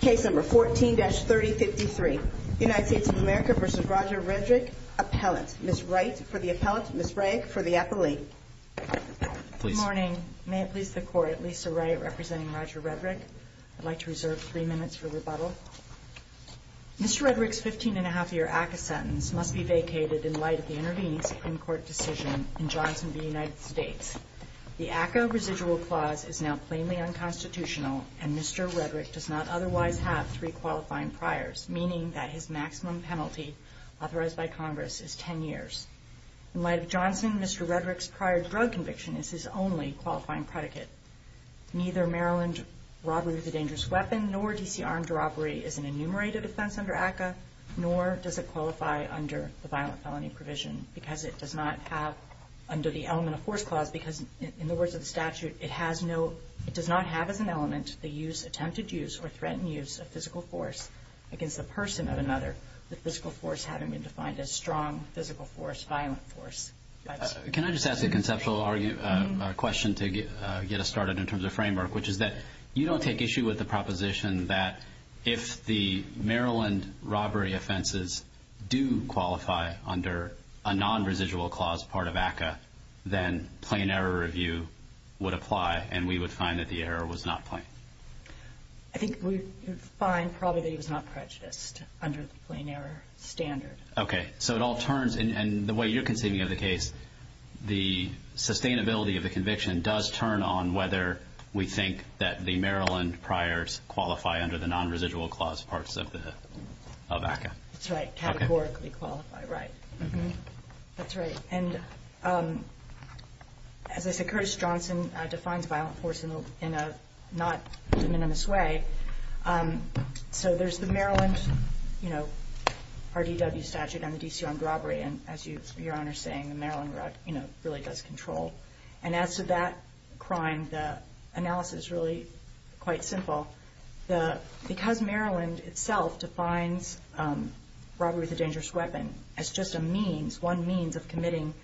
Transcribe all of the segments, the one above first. Case number 14-3053, United States of America v. Roger Redrick, appellant. Ms. Wright for the appellant, Ms. Bragg for the appellee. Good morning. May it please the Court, Lisa Wright representing Roger Redrick. I'd like to reserve three minutes for rebuttal. Mr. Redrick's 15-1⁄2-year ACCA sentence must be vacated in light of the intervening Supreme Court decision in Johnson v. United States. The ACCA residual clause is now plainly unconstitutional, and Mr. Redrick does not otherwise have three qualifying priors, meaning that his maximum penalty authorized by Congress is 10 years. In light of Johnson, Mr. Redrick's prior drug conviction is his only qualifying predicate. Neither Maryland robbery of a dangerous weapon nor D.C. armed robbery is an enumerated offense under ACCA, nor does it qualify under the violent felony provision because it does not have, under the element of force clause, because in the words of the statute, it has no, it does not have as an element the use, attempted use, or threatened use of physical force against the person of another, the physical force having been defined as strong physical force, violent force. Can I just ask a conceptual question to get us started in terms of framework, which is that you don't take issue with the proposition that if the Maryland robbery offenses do qualify under a non-residual clause part of ACCA, then plain error review would apply, and we would find that the error was not plain. I think we would find probably that it was not prejudiced under the plain error standard. Okay, so it all turns, and the way you're conceiving of the case, the sustainability of the conviction does turn on whether we think that the Maryland priors qualify under the non-residual clause parts of ACCA. That's right, categorically qualify, right. That's right, and as I said, Curtis Johnson defines violent force in a not minimalist way. So there's the Maryland, you know, RDW statute on the D.C. armed robbery, and as Your Honor is saying, the Maryland, you know, really does control. And as to that crime, the analysis is really quite simple. Because Maryland itself defines robbery with a dangerous weapon as just a means, one means of committing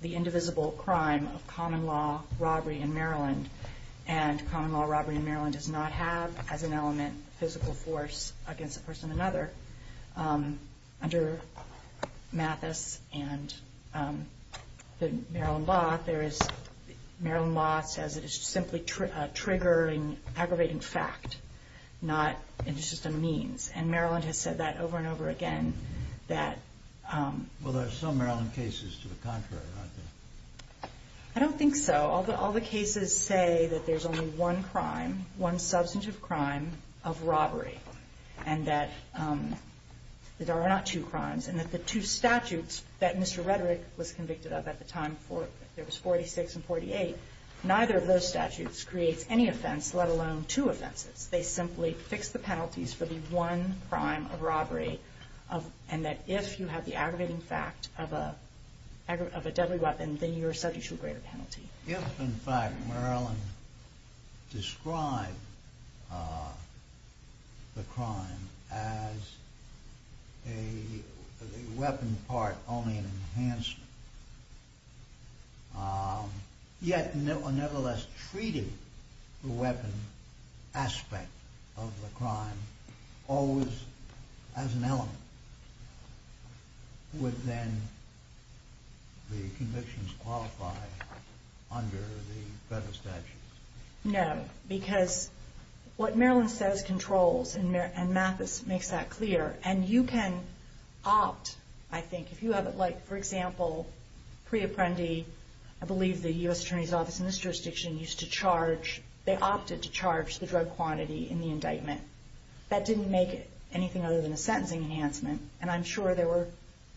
the indivisible crime of common law robbery in Maryland, and common law robbery in Maryland does not have as an element physical force against a person or another, under Mathis and the Maryland law, there is Maryland law says it is simply a triggering, aggravating fact, not just a means. And Maryland has said that over and over again. Well, there are some Maryland cases to the contrary, aren't there? I don't think so. All the cases say that there's only one crime, one substantive crime of robbery, and that there are not two crimes, and that the two statutes that Mr. Rederick was convicted of at the time, there was 46 and 48, neither of those statutes creates any offense, let alone two offenses. They simply fix the penalties for the one crime of robbery, and that if you have the aggravating fact of a deadly weapon, then you are subject to a greater penalty. If, in fact, Maryland described the crime as a weapon part, only an enhancement, yet nevertheless treated the weapon aspect of the crime always as an element, would then the convictions qualify under the federal statutes? No, because what Maryland says controls, and Mathis makes that clear, and you can opt, I think, if you have it like, for example, pre-apprendi, I believe the U.S. Attorney's Office in this jurisdiction used to charge, they opted to charge the drug quantity in the indictment. That didn't make it anything other than a sentencing enhancement, and I'm sure there were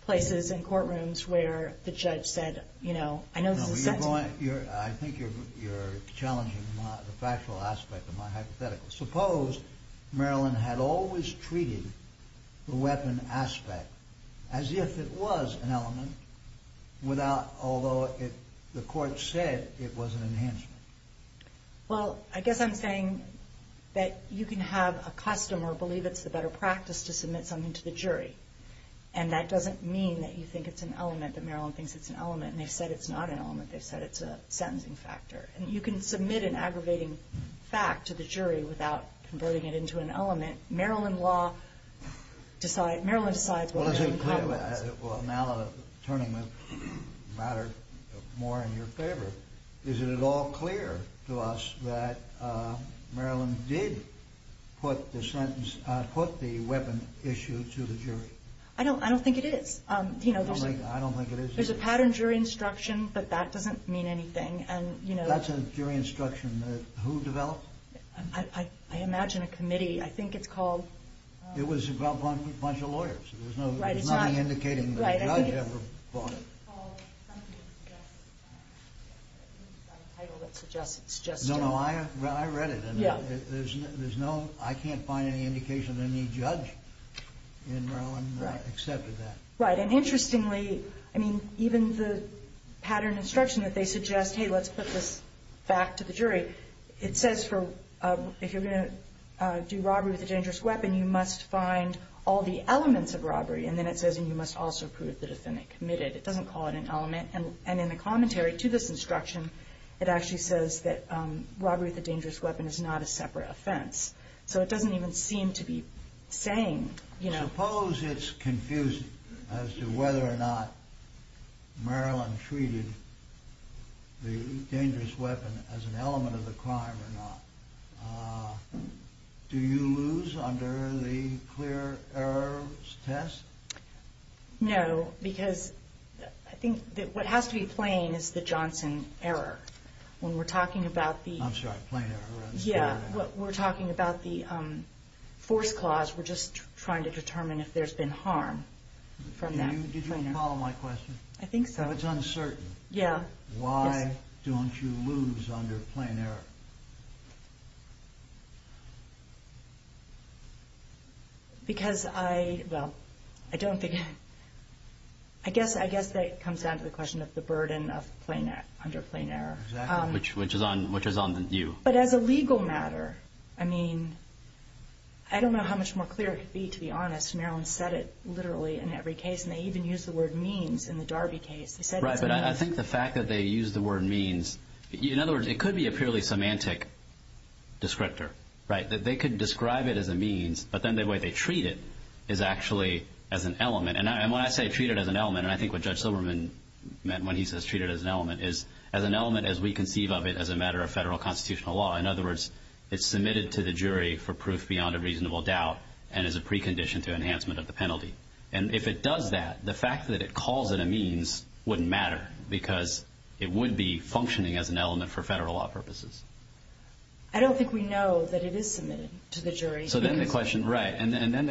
places in courtrooms where the judge said, you know, I know this is a sentence. I think you're challenging the factual aspect of my hypothetical. Suppose Maryland had always treated the weapon aspect as if it was an element, although the court said it was an enhancement. Well, I guess I'm saying that you can have a customer believe it's the better practice to submit something to the jury, and that doesn't mean that you think it's an element, that Maryland thinks it's an element, and they've said it's not an element. They've said it's a sentencing factor, and you can submit an aggravating fact to the jury without converting it into an element. Maryland law, Maryland decides what it encompasses. Well, now the attorney matter more in your favor. Is it at all clear to us that Maryland did put the sentence, put the weapon issue to the jury? I don't think it is. I don't think it is. There's a pattern jury instruction, but that doesn't mean anything. That's a jury instruction that who developed? I imagine a committee. I think it's called. It was a bunch of lawyers. There's nothing indicating that a judge ever bought it. I think it's called something that suggests it. I think it's got a title that suggests it. No, no, I read it. There's no, I can't find any indication that any judge in Maryland accepted that. Right, and interestingly, I mean, even the pattern instruction that they suggest, hey, let's put this back to the jury, it says if you're going to do robbery with a dangerous weapon, then you must find all the elements of robbery. And then it says you must also prove the defendant committed. It doesn't call it an element. And in the commentary to this instruction, it actually says that robbery with a dangerous weapon is not a separate offense. So it doesn't even seem to be saying, you know. Suppose it's confusing as to whether or not Maryland treated the dangerous weapon as an element of the crime or not. Do you lose under the clear errors test? No, because I think what has to be plain is the Johnson error. When we're talking about the... I'm sorry, plain error. Yeah, when we're talking about the force clause, we're just trying to determine if there's been harm from that. Did you follow my question? I think so. So it's uncertain. Yeah. Why don't you lose under plain error? Because I, well, I don't think... I guess that comes down to the question of the burden under plain error. Exactly. Which is on you. But as a legal matter, I mean, I don't know how much more clear it could be, to be honest. Maryland said it literally in every case, and they even used the word means in the Darby case. Right, but I think the fact that they used the word means... In other words, it could be a purely semantic descriptor. They could describe it as a means, but then the way they treat it is actually as an element. And when I say treat it as an element, and I think what Judge Silberman meant when he says treat it as an element, is as an element as we conceive of it as a matter of federal constitutional law. In other words, it's submitted to the jury for proof beyond a reasonable doubt and is a precondition to enhancement of the penalty. And if it does that, the fact that it calls it a means wouldn't matter because it would be functioning as an element for federal law purposes. I don't think we know that it is submitted to the jury. So then the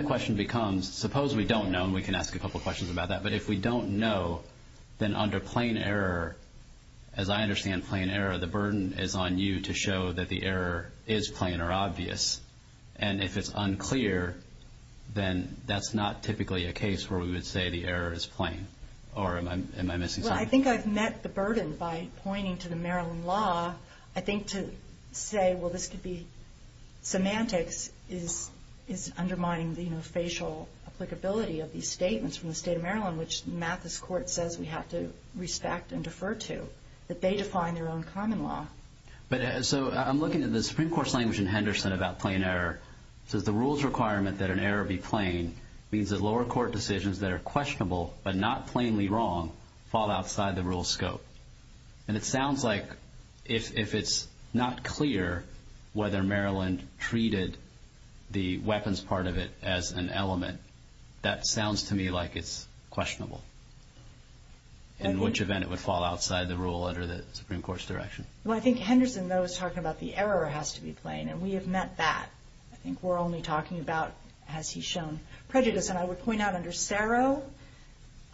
question becomes, suppose we don't know, and we can ask a couple questions about that, but if we don't know, then under plain error, as I understand plain error, the burden is on you to show that the error is plain or obvious. And if it's unclear, then that's not typically a case where we would say the error is plain. Or am I missing something? Well, I think I've met the burden by pointing to the Maryland law. I think to say, well, this could be semantics, is undermining the facial applicability of these statements from the state of Maryland, which Mathis Court says we have to respect and defer to, that they define their own common law. So I'm looking at the Supreme Court's language in Henderson about plain error. It says the rule's requirement that an error be plain means that lower court decisions that are questionable but not plainly wrong fall outside the rule's scope. And it sounds like if it's not clear whether Maryland treated the weapons part of it as an element, that sounds to me like it's questionable, in which event it would fall outside the rule under the Supreme Court's direction. Well, I think Henderson, though, is talking about the error has to be plain, and we have met that. I think we're only talking about, as he's shown, prejudice. And I would point out under Sero,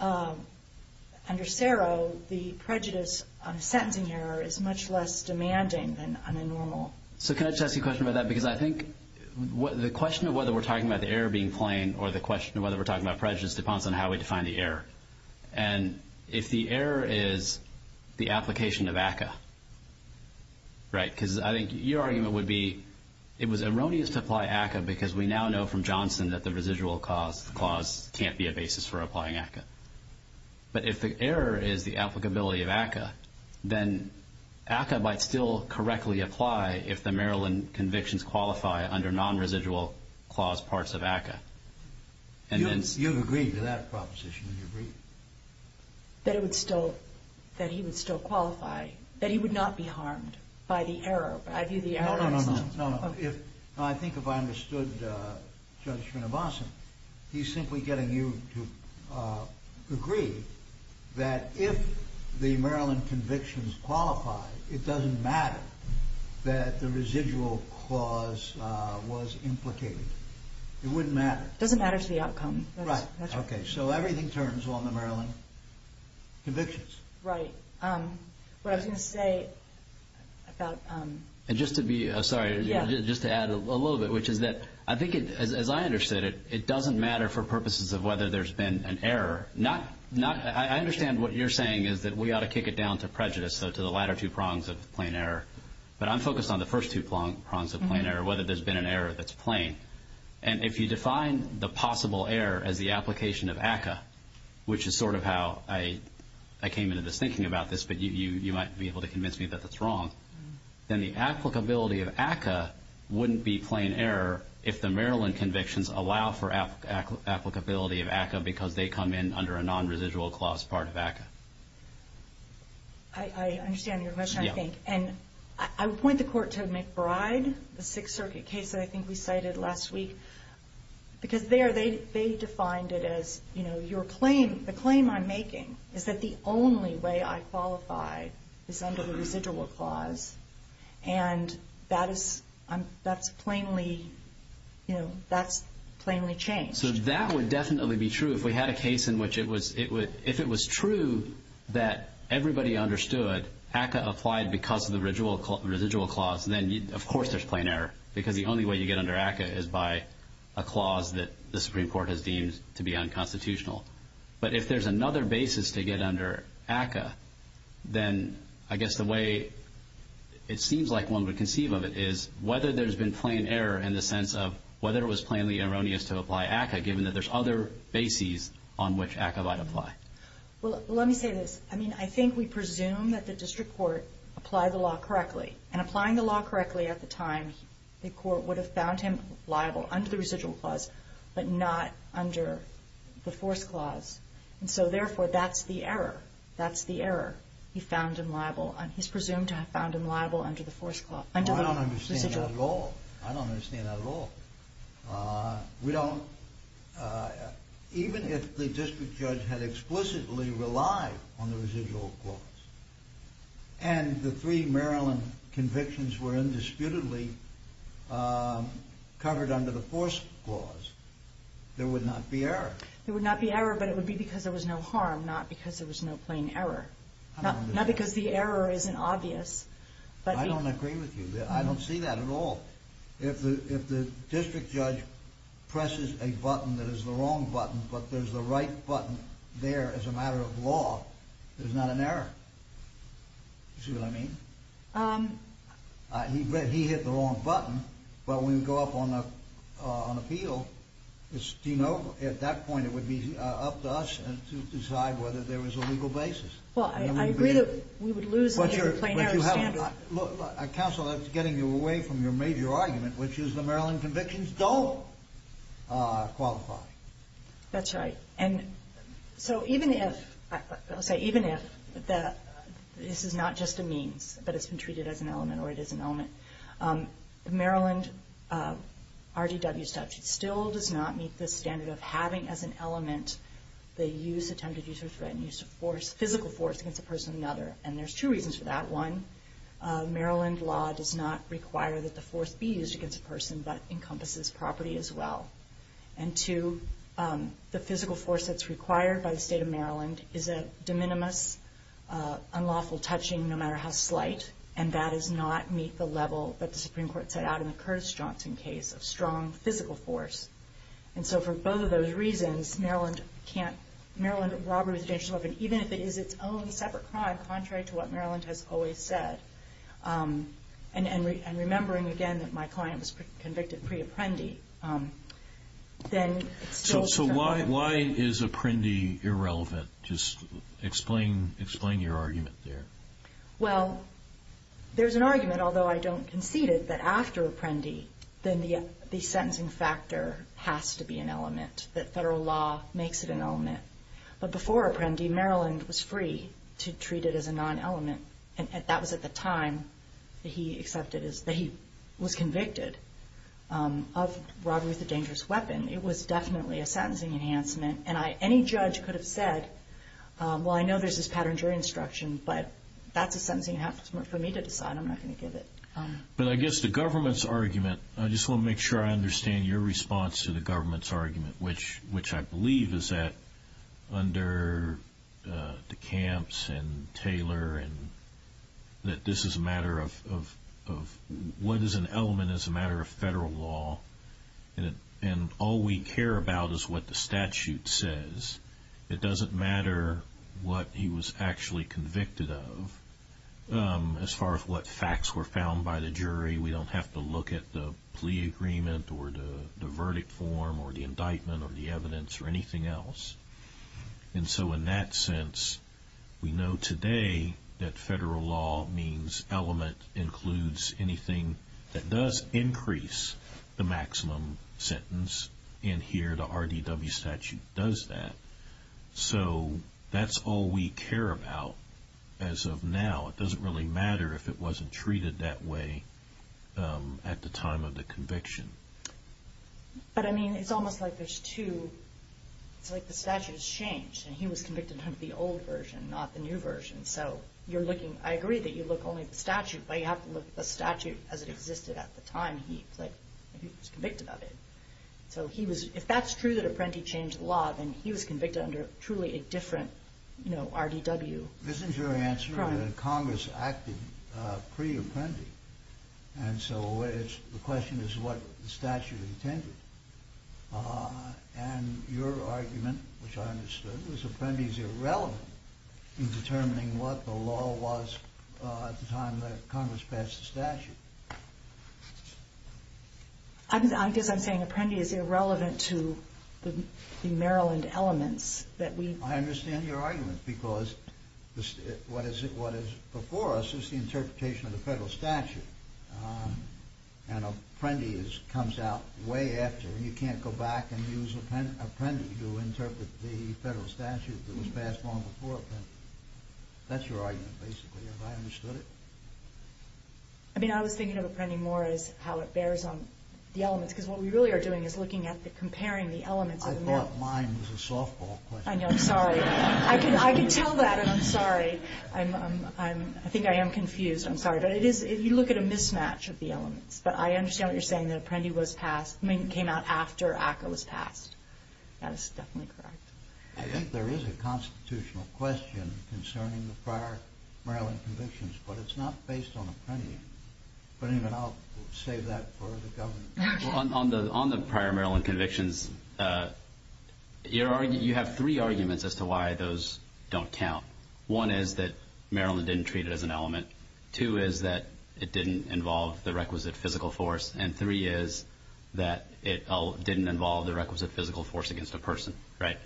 under Sero, the prejudice on a sentencing error is much less demanding than on a normal. So can I just ask you a question about that? Because I think the question of whether we're talking about the error being plain or the question of whether we're talking about prejudice depends on how we define the error. And if the error is the application of ACCA, right, because I think your argument would be it was erroneous to apply ACCA because we now know from Johnson that the residual clause can't be a basis for applying ACCA. But if the error is the applicability of ACCA, then ACCA might still correctly apply if the Maryland convictions qualify under non-residual clause parts of ACCA. You've agreed to that proposition, have you agreed? That it would still, that he would still qualify, that he would not be harmed by the error. I view the error on its own. No, no, no, no. I think if I understood Judge Srinivasan, he's simply getting you to agree that if the Maryland convictions qualify, it doesn't matter that the residual clause was implicated. It wouldn't matter. It doesn't matter to the outcome. Right. Okay. So everything turns on the Maryland convictions. Right. What I was going to say about... And just to be, sorry, just to add a little bit, which is that I think as I understood it, it doesn't matter for purposes of whether there's been an error. I understand what you're saying is that we ought to kick it down to prejudice, so to the latter two prongs of plain error. But I'm focused on the first two prongs of plain error, whether there's been an error that's plain. And if you define the possible error as the application of ACCA, which is sort of how I came into this thinking about this, but you might be able to convince me that that's wrong, then the applicability of ACCA wouldn't be plain error if the Maryland convictions allow for applicability of ACCA because they come in under a non-residual clause part of ACCA. I understand your question, I think. And I would point the Court to McBride, the Sixth Circuit case that I think we cited last week, because there they defined it as, you know, the claim I'm making is that the only way I qualify is under the residual clause, and that's plainly changed. So that would definitely be true if we had a case in which it was true that everybody understood ACCA applied because of the residual clause, then of course there's plain error, because the only way you get under ACCA is by a clause that the Supreme Court has deemed to be unconstitutional. But if there's another basis to get under ACCA, then I guess the way it seems like one would conceive of it is whether there's been plain error in the sense of whether it was plainly erroneous to apply ACCA, given that there's other bases on which ACCA might apply. Well, let me say this. I mean, I think we presume that the District Court applied the law correctly, and applying the law correctly at the time, the Court would have found him liable under the residual clause, but not under the force clause. And so, therefore, that's the error. That's the error. He found him liable, and he's presumed to have found him liable under the force clause. I don't understand that at all. I don't understand that at all. We don't, even if the District Judge had explicitly relied on the residual clause, and the three Maryland convictions were indisputably covered under the force clause, there would not be error. There would not be error, but it would be because there was no harm, not because there was no plain error. Not because the error isn't obvious. I don't agree with you. I don't see that at all. If the District Judge presses a button that is the wrong button, but there's the right button there as a matter of law, there's not an error. Do you see what I mean? He hit the wrong button, but when we go up on appeal, do you know at that point it would be up to us to decide whether there was a legal basis. Well, I agree that we would lose the plain error standard. Counsel, that's getting you away from your major argument, which is the Maryland convictions don't qualify. That's right. And so even if, I'll say even if, this is not just a means, but it's been treated as an element or it is an element, Maryland RDW statute still does not meet the standard of having as an element the use, attempted use or threatened use of force, physical force against a person or another. And there's two reasons for that. One, Maryland law does not require that the force be used against a person, but it encompasses property as well. And two, the physical force that's required by the state of Maryland is a de minimis, unlawful touching no matter how slight, and that does not meet the level that the Supreme Court set out in the Curtis-Johnson case of strong physical force. And so for both of those reasons, Maryland can't, Maryland robbery with a dangerous weapon, even if it is its own separate crime, contrary to what Maryland has always said. And remembering, again, that my client was convicted pre-apprendi. So why is apprendi irrelevant? Just explain your argument there. Well, there's an argument, although I don't concede it, that after apprendi then the sentencing factor has to be an element, that federal law makes it an element. But before apprendi, Maryland was free to treat it as a non-element, and that was at the time that he was convicted of robbery with a dangerous weapon. It was definitely a sentencing enhancement. And any judge could have said, well, I know there's this pattern during instruction, but that's a sentencing enhancement for me to decide. I'm not going to give it. But I guess the government's argument, which I believe is that under DeCamps and Taylor, that this is a matter of what is an element is a matter of federal law. And all we care about is what the statute says. It doesn't matter what he was actually convicted of. As far as what facts were found by the jury, we don't have to look at the plea agreement or the verdict form or the indictment or the evidence or anything else. And so in that sense, we know today that federal law means element includes anything that does increase the maximum sentence, and here the RDW statute does that. So that's all we care about as of now. It doesn't really matter if it wasn't treated that way at the time of the conviction. But, I mean, it's almost like there's two – it's like the statute has changed and he was convicted under the old version, not the new version. So you're looking – I agree that you look only at the statute, but you have to look at the statute as it existed at the time he was convicted of it. So he was – if that's true that Apprenti changed the law, then he was convicted under truly a different, you know, RDW. Isn't your answer that Congress acted pre-Apprenti, and so the question is what the statute intended? And your argument, which I understood, was Apprenti's irrelevant in determining what the law was at the time that Congress passed the statute. I guess I'm saying Apprenti is irrelevant to the Maryland elements that we – I understand your argument, because what is before us is the interpretation of the federal statute, and Apprenti comes out way after, and you can't go back and use Apprenti to interpret the federal statute that was passed long before Apprenti. That's your argument, basically. Have I understood it? I mean, I was thinking of Apprenti more as how it bears on the elements, because what we really are doing is looking at the – comparing the elements of the Maryland – I thought mine was a softball question. I know. I'm sorry. I can tell that, and I'm sorry. I'm – I think I am confused. I'm sorry. But it is – you look at a mismatch of the elements. But I understand what you're saying, that Apprenti was passed – I mean, it came out after ACCA was passed. That is definitely correct. I think there is a constitutional question concerning the prior Maryland convictions, but it's not based on Apprenti. But anyway, I'll save that for the Governor. On the prior Maryland convictions, you have three arguments as to why those don't count. One is that Maryland didn't treat it as an element. Two is that it didn't involve the requisite physical force. And three is that it didn't involve the requisite physical force against a person, right?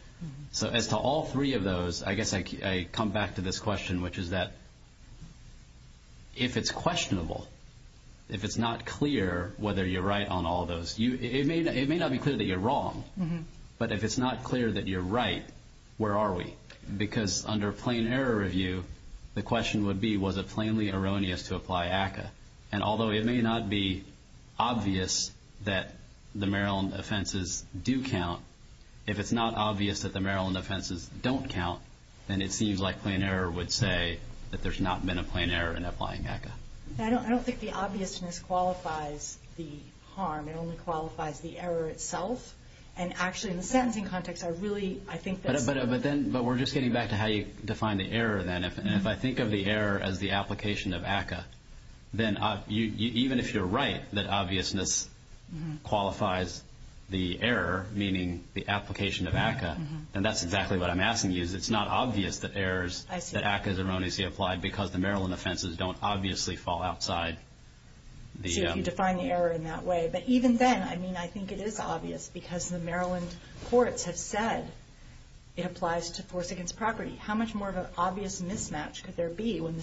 So as to all three of those, I guess I come back to this question, which is that if it's questionable, if it's not clear whether you're right on all those, it may not be clear that you're wrong. But if it's not clear that you're right, where are we? Because under plain error review, the question would be, was it plainly erroneous to apply ACCA? And although it may not be obvious that the Maryland offenses do count, if it's not obvious that the Maryland offenses don't count, then it seems like plain error would say that there's not been a plain error in applying ACCA. I don't think the obviousness qualifies the harm. It only qualifies the error itself. And actually, in the sentencing context, I really think that's... But we're just getting back to how you defined the error then. And if I think of the error as the application of ACCA, then even if you're right that obviousness qualifies the error, meaning the application of ACCA, then that's exactly what I'm asking you is it's not obvious that errors, that ACCA is erroneously applied because the Maryland offenses don't obviously fall outside the... So you define the error in that way. But even then, I mean, I think it is obvious because the Maryland courts have said it applies to force against property. How much more of an obvious mismatch could there be when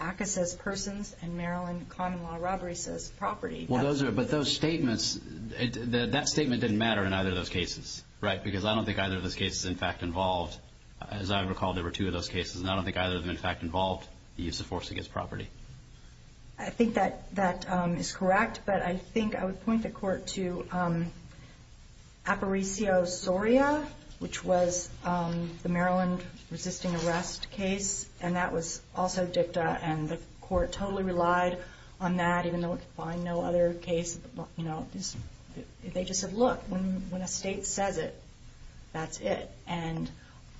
ACCA says persons and Maryland common law robbery says property? But those statements, that statement didn't matter in either of those cases, right? Because I don't think either of those cases is in fact involved. As I recall, there were two of those cases, and I don't think either of them in fact involved the use of force against property. I think that that is correct, but I think I would point the court to Aparicio Soria, which was the Maryland resisting arrest case, and that was also dicta, and the court totally relied on that even though it defined no other case. They just said, look, when a state says it, that's it. And,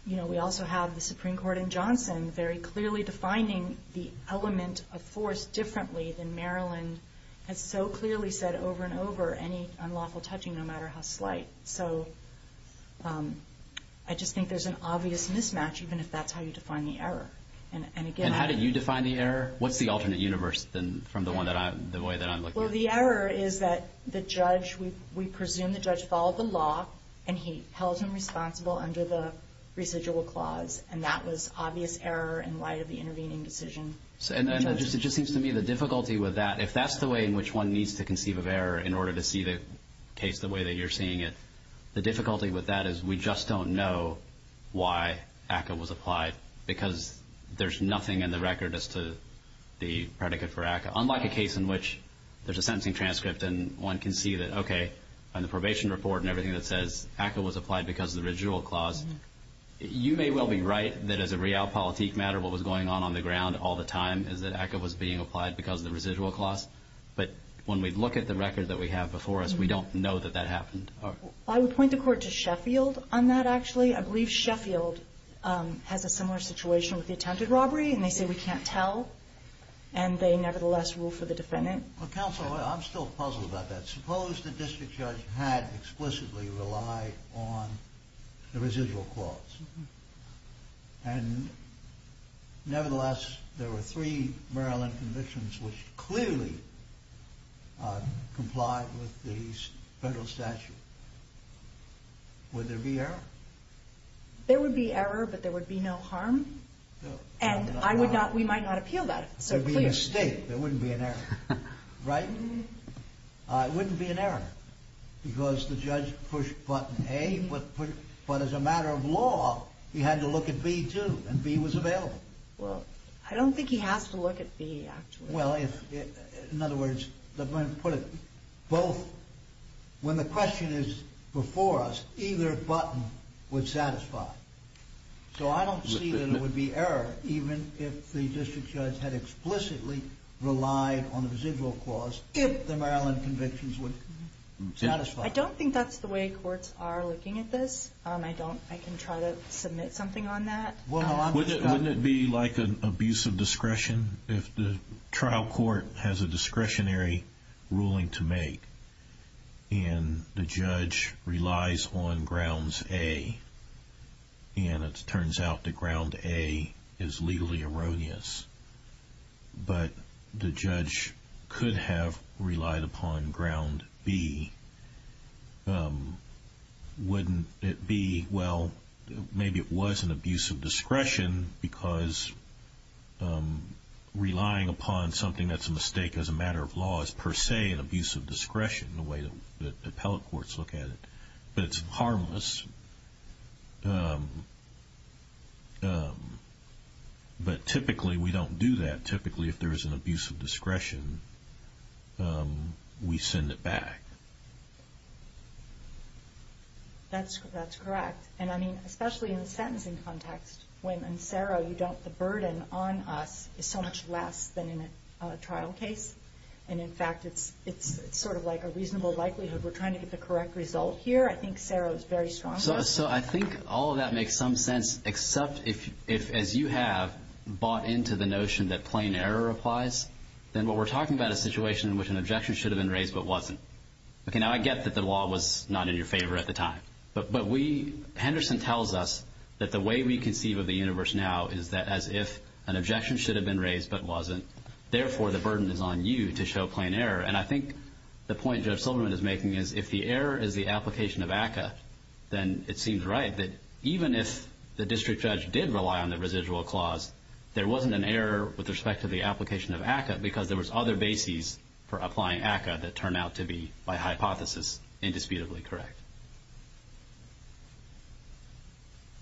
you know, we also have the Supreme Court in Johnson very clearly defining the element of force differently than Maryland has so clearly said over and over any unlawful touching no matter how slight. So I just think there's an obvious mismatch even if that's how you define the error. And again... And how do you define the error? What's the alternate universe from the way that I'm looking at it? Well, the error is that the judge, we presume the judge followed the law and he held him responsible under the residual clause, and that was obvious error in light of the intervening decision. And it just seems to me the difficulty with that, if that's the way in which one needs to conceive of error in order to see the case the way that you're seeing it, the difficulty with that is we just don't know why ACCA was applied because there's nothing in the record as to the predicate for ACCA, unlike a case in which there's a sentencing transcript and one can see that, okay, and the probation report and everything that says ACCA was applied because of the residual clause. You may well be right that as a realpolitik matter, what was going on on the ground all the time is that ACCA was being applied because of the residual clause. But when we look at the record that we have before us, we don't know that that happened. I would point the court to Sheffield on that, actually. I believe Sheffield has a similar situation with the attempted robbery, and they say we can't tell, and they nevertheless rule for the defendant. Well, counsel, I'm still puzzled about that. Suppose the district judge had explicitly relied on the residual clause, and nevertheless there were three Maryland convictions which clearly complied with the federal statute. Would there be error? There would be error, but there would be no harm. And we might not appeal that. There would be a mistake. There wouldn't be an error. Right? It wouldn't be an error because the judge pushed button A, but as a matter of law, he had to look at B, too, and B was available. Well, I don't think he has to look at B, actually. Well, in other words, let me put it both. When the question is before us, either button would satisfy. So I don't see that it would be error, even if the district judge had explicitly relied on the residual clause, if the Maryland convictions would satisfy. I don't think that's the way courts are looking at this. I can try to submit something on that. Wouldn't it be like an abuse of discretion if the trial court has a discretionary ruling to make and the judge relies on grounds A, and it turns out that ground A is legally erroneous, but the judge could have relied upon ground B? Wouldn't it be, well, maybe it was an abuse of discretion because relying upon something that's a mistake as a matter of law doesn't give us, per se, an abuse of discretion, the way that appellate courts look at it. But it's harmless. But typically we don't do that. Typically if there is an abuse of discretion, we send it back. That's correct. And I mean, especially in the sentencing context, the burden on us is so much less than in a trial case. And, in fact, it's sort of like a reasonable likelihood we're trying to get the correct result here. I think Sarah is very strong on that. So I think all of that makes some sense, except if, as you have, bought into the notion that plain error applies, then what we're talking about is a situation in which an objection should have been raised but wasn't. Now, I get that the law was not in your favor at the time, but Henderson tells us that the way we conceive of the universe now is that as if an objection should have been raised but wasn't, therefore the burden is on you to show plain error. And I think the point Judge Silverman is making is if the error is the application of ACCA, then it seems right that even if the district judge did rely on the residual clause, there wasn't an error with respect to the application of ACCA because there was other bases for applying ACCA that turned out to be, by hypothesis, indisputably correct.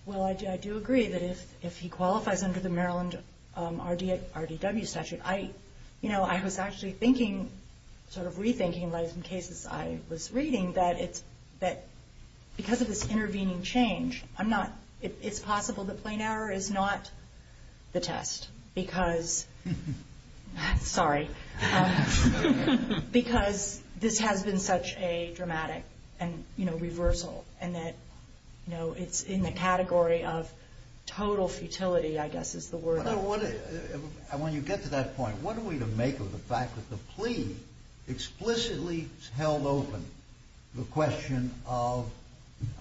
Well, I do agree that if he qualifies under the Maryland RDW statute, I was actually thinking, sort of rethinking, in some cases I was reading, that because of this intervening change, it's possible that plain error is not the test because this has been such a dramatic reversal and that it's in the category of total futility, I guess is the word. When you get to that point, what are we to make of the fact that the plea explicitly held open the question of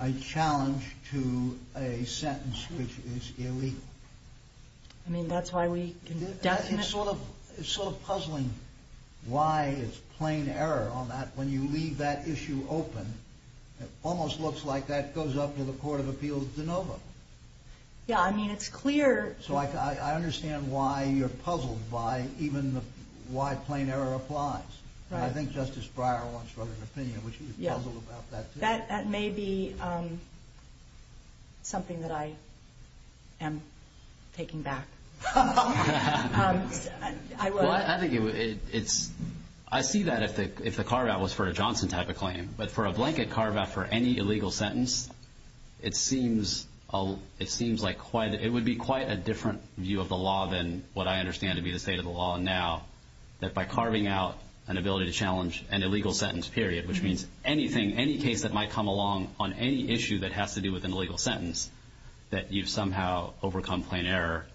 a challenge to a sentence which is illegal? I mean, that's why we can definitely... It's sort of puzzling why it's plain error on that. When you leave that issue open, it almost looks like that goes up to the Court of Appeals de novo. Yeah, I mean, it's clear... So I understand why you're puzzled by even why plain error applies. And I think Justice Breyer wants further opinion, which is puzzled about that, too. That may be something that I am taking back. I see that if the carve-out was for a Johnson type of claim. But for a blanket carve-out for any illegal sentence, it would be quite a different view of the law than what I understand to be the state of the law now, that by carving out an ability to challenge an illegal sentence, period, which means anything, any case that might come along on any issue that has to do with an illegal sentence, that you've somehow overcome plain error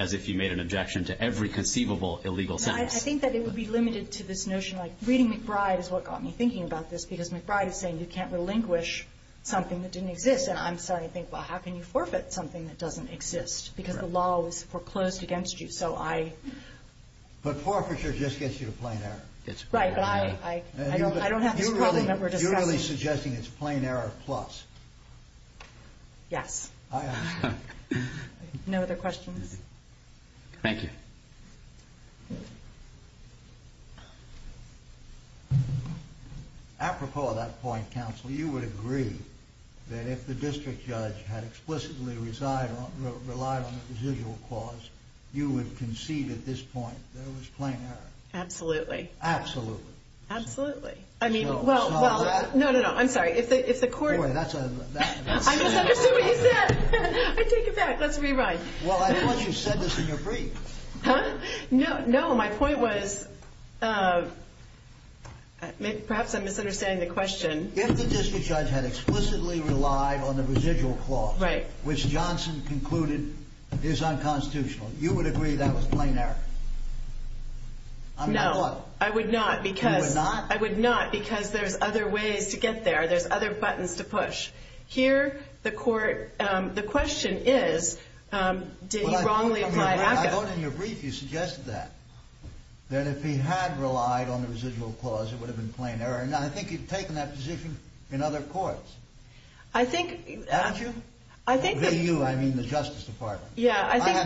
as if you made an objection to every conceivable illegal sentence. I think that it would be limited to this notion, like reading McBride is what got me thinking about this, because McBride is saying you can't relinquish something that didn't exist. And I'm starting to think, well, how can you forfeit something that doesn't exist? Because the law was foreclosed against you. So I... But forfeiture just gets you to plain error. Right, but I don't have this problem that we're discussing. You're really suggesting it's plain error plus? Yes. I understand. No other questions? Thank you. Apropos of that point, counsel, you would agree that if the district judge had explicitly relied on the residual clause, you would concede at this point that it was plain error? Absolutely. Absolutely. Absolutely. I mean, well... No. No, no, no. I'm sorry. If the court... That's a... I misunderstood what you said. I take it back. Let's rewrite. Well, I thought you said this in your brief. Huh? No. No. My point was, perhaps I'm misunderstanding the question. If the district judge had explicitly relied on the residual clause, which Johnson concluded is unconstitutional, you would agree that was plain error? No. I would not because... You would not? I would not because there's other ways to get there. There's other buttons to push. Here, the court... The question is, did he wrongly apply HACCP? I thought in your brief you suggested that, that if he had relied on the residual clause, it would have been plain error. Now, I think you've taken that position in other courts. I think... Haven't you? I think... By you, I mean the Justice Department. Yeah, I think... You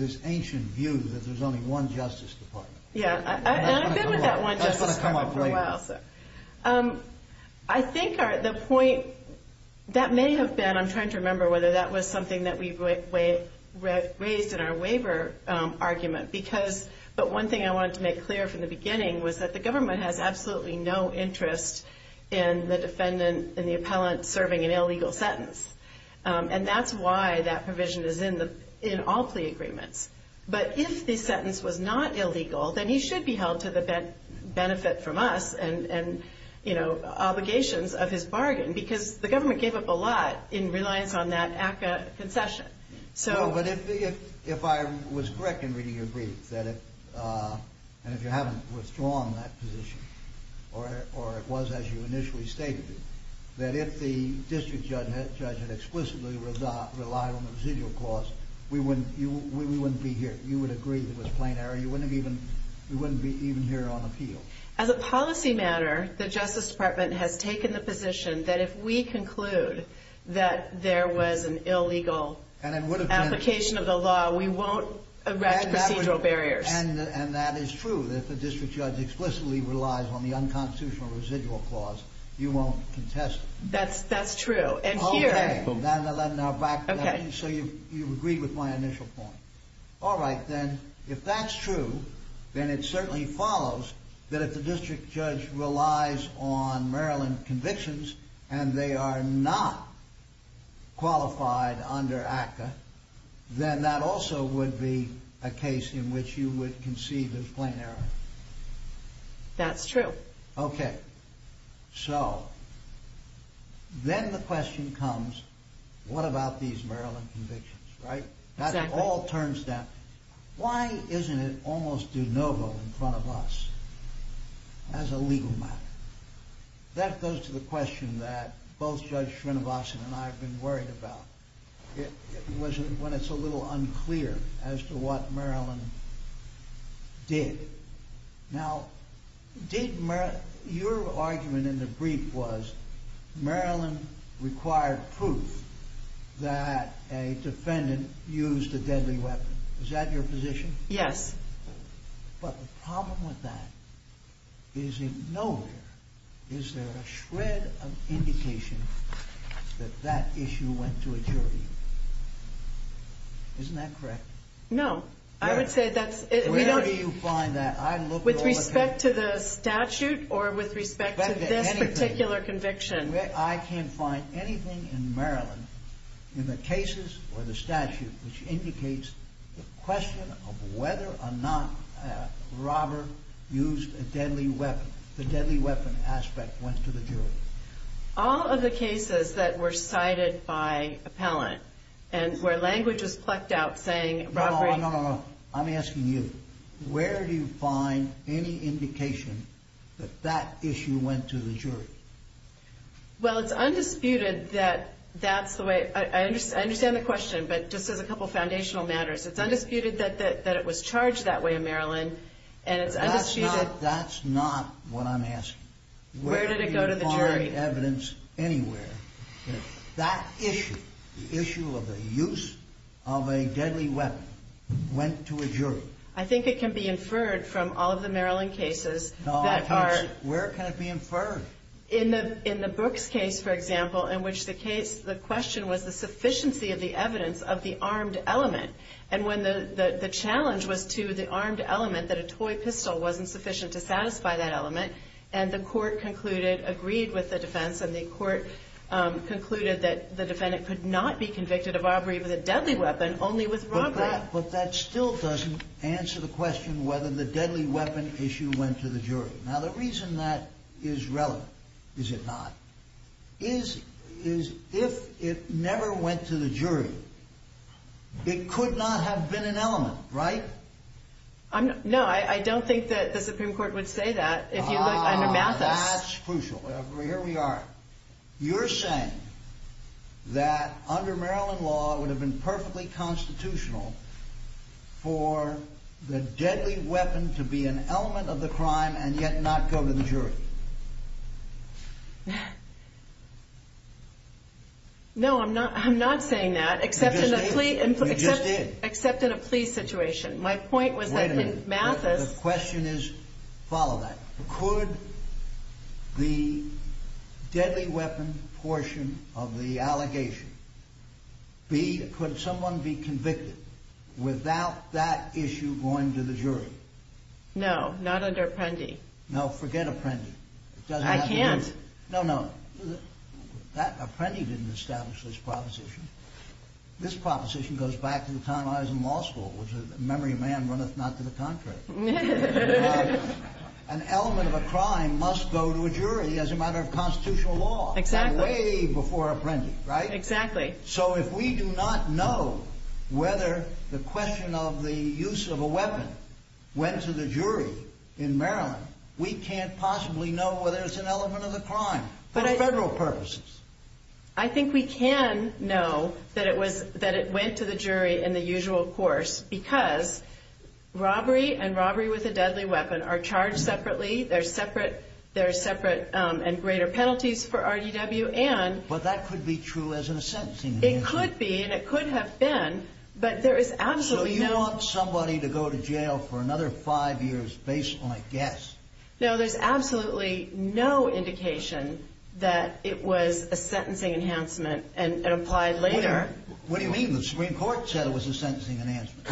had this ancient view that there's only one Justice Department. Yeah, and I've been with that one Justice Department for a while. That's going to come up later. I think the point... That may have been... I'm trying to remember whether that was something that we raised in our waiver argument. But one thing I wanted to make clear from the beginning was that the government has absolutely no interest in the defendant and the appellant serving an illegal sentence. And that's why that provision is in all plea agreements. But if the sentence was not illegal, then he should be held to the benefit from us and obligations of his bargain because the government gave up a lot in reliance on that HACCP concession. No, but if I was correct in reading your brief, and if you haven't withdrawn that position, or it was as you initially stated it, that if the district judge had explicitly relied on the residual clause, we wouldn't be here. You would agree that it was plain error. We wouldn't be even here on appeal. As a policy matter, the Justice Department has taken the position that if we conclude that there was an illegal application of the law, we won't erect procedural barriers. And that is true. If the district judge explicitly relies on the unconstitutional residual clause, you won't contest it. That's true. Okay, so you've agreed with my initial point. All right, then. If that's true, then it certainly follows that if the district judge relies on Maryland convictions and they are not qualified under ACCA, then that also would be a case in which you would concede it was plain error. That's true. Okay, so then the question comes, what about these Maryland convictions, right? That all turns down. Why isn't it almost de novo in front of us as a legal matter? That goes to the question that both Judge Srinivasan and I have been worried about. It was when it's a little unclear as to what Maryland did. Now, your argument in the brief was Maryland required proof that a defendant used a deadly weapon. Is that your position? Yes. But the problem with that is in nowhere is there a shred of indication that that issue went to a jury. Isn't that correct? No. Where do you find that? With respect to the statute or with respect to this particular conviction? I can't find anything in Maryland in the cases or the statute which indicates the question of whether or not a robber used a deadly weapon. The deadly weapon aspect went to the jury. All of the cases that were cited by appellant and where language was plucked out saying robbery. No, no, no. I'm asking you. Where do you find any indication that that issue went to the jury? Well, it's undisputed that that's the way. I understand the question, but just as a couple of foundational matters, it's undisputed that it was charged that way in Maryland and it's undisputed. That's not what I'm asking. Where did it go to the jury? Where do you find evidence anywhere? That issue, the issue of the use of a deadly weapon, went to a jury. I think it can be inferred from all of the Maryland cases. No, I can't. Where can it be inferred? In the Brooks case, for example, in which the question was the sufficiency of the evidence of the armed element. And when the challenge was to the armed element that a toy pistol wasn't sufficient to satisfy that element, and the court concluded, agreed with the defense, and the court concluded that the defendant could not be convicted of robbery with a deadly weapon, only with robbery. But that still doesn't answer the question whether the deadly weapon issue went to the jury. Now, the reason that is relevant, is it not, is if it never went to the jury, it could not have been an element, right? No, I don't think that the Supreme Court would say that. If you look under Mathis. Ah, that's crucial. Here we are. You're saying that under Maryland law, it would have been perfectly constitutional for the deadly weapon to be an element of the crime and yet not go to the jury. No, I'm not saying that. You just did. Except in a plea situation. My point was that in Mathis... Could the deadly weapon portion of the allegation be, could someone be convicted without that issue going to the jury? No, not under Apprendi. No, forget Apprendi. I can't. No, no. Apprendi didn't establish this proposition. This proposition goes back to the time I was in law school, which is, memory of man runneth not to the contrary. An element of a crime must go to a jury as a matter of constitutional law. Exactly. Way before Apprendi, right? Exactly. So if we do not know whether the question of the use of a weapon went to the jury in Maryland, we can't possibly know whether it's an element of the crime for federal purposes. I think we can know that it went to the jury in the usual course because robbery and robbery with a deadly weapon are charged separately. They're separate and greater penalties for RDW and... But that could be true as in a sentencing enhancement. It could be and it could have been, but there is absolutely no... So you want somebody to go to jail for another five years based on a guess. No, there's absolutely no indication that it was a sentencing enhancement and applied later. What do you mean? The Supreme Court said it was a sentencing enhancement.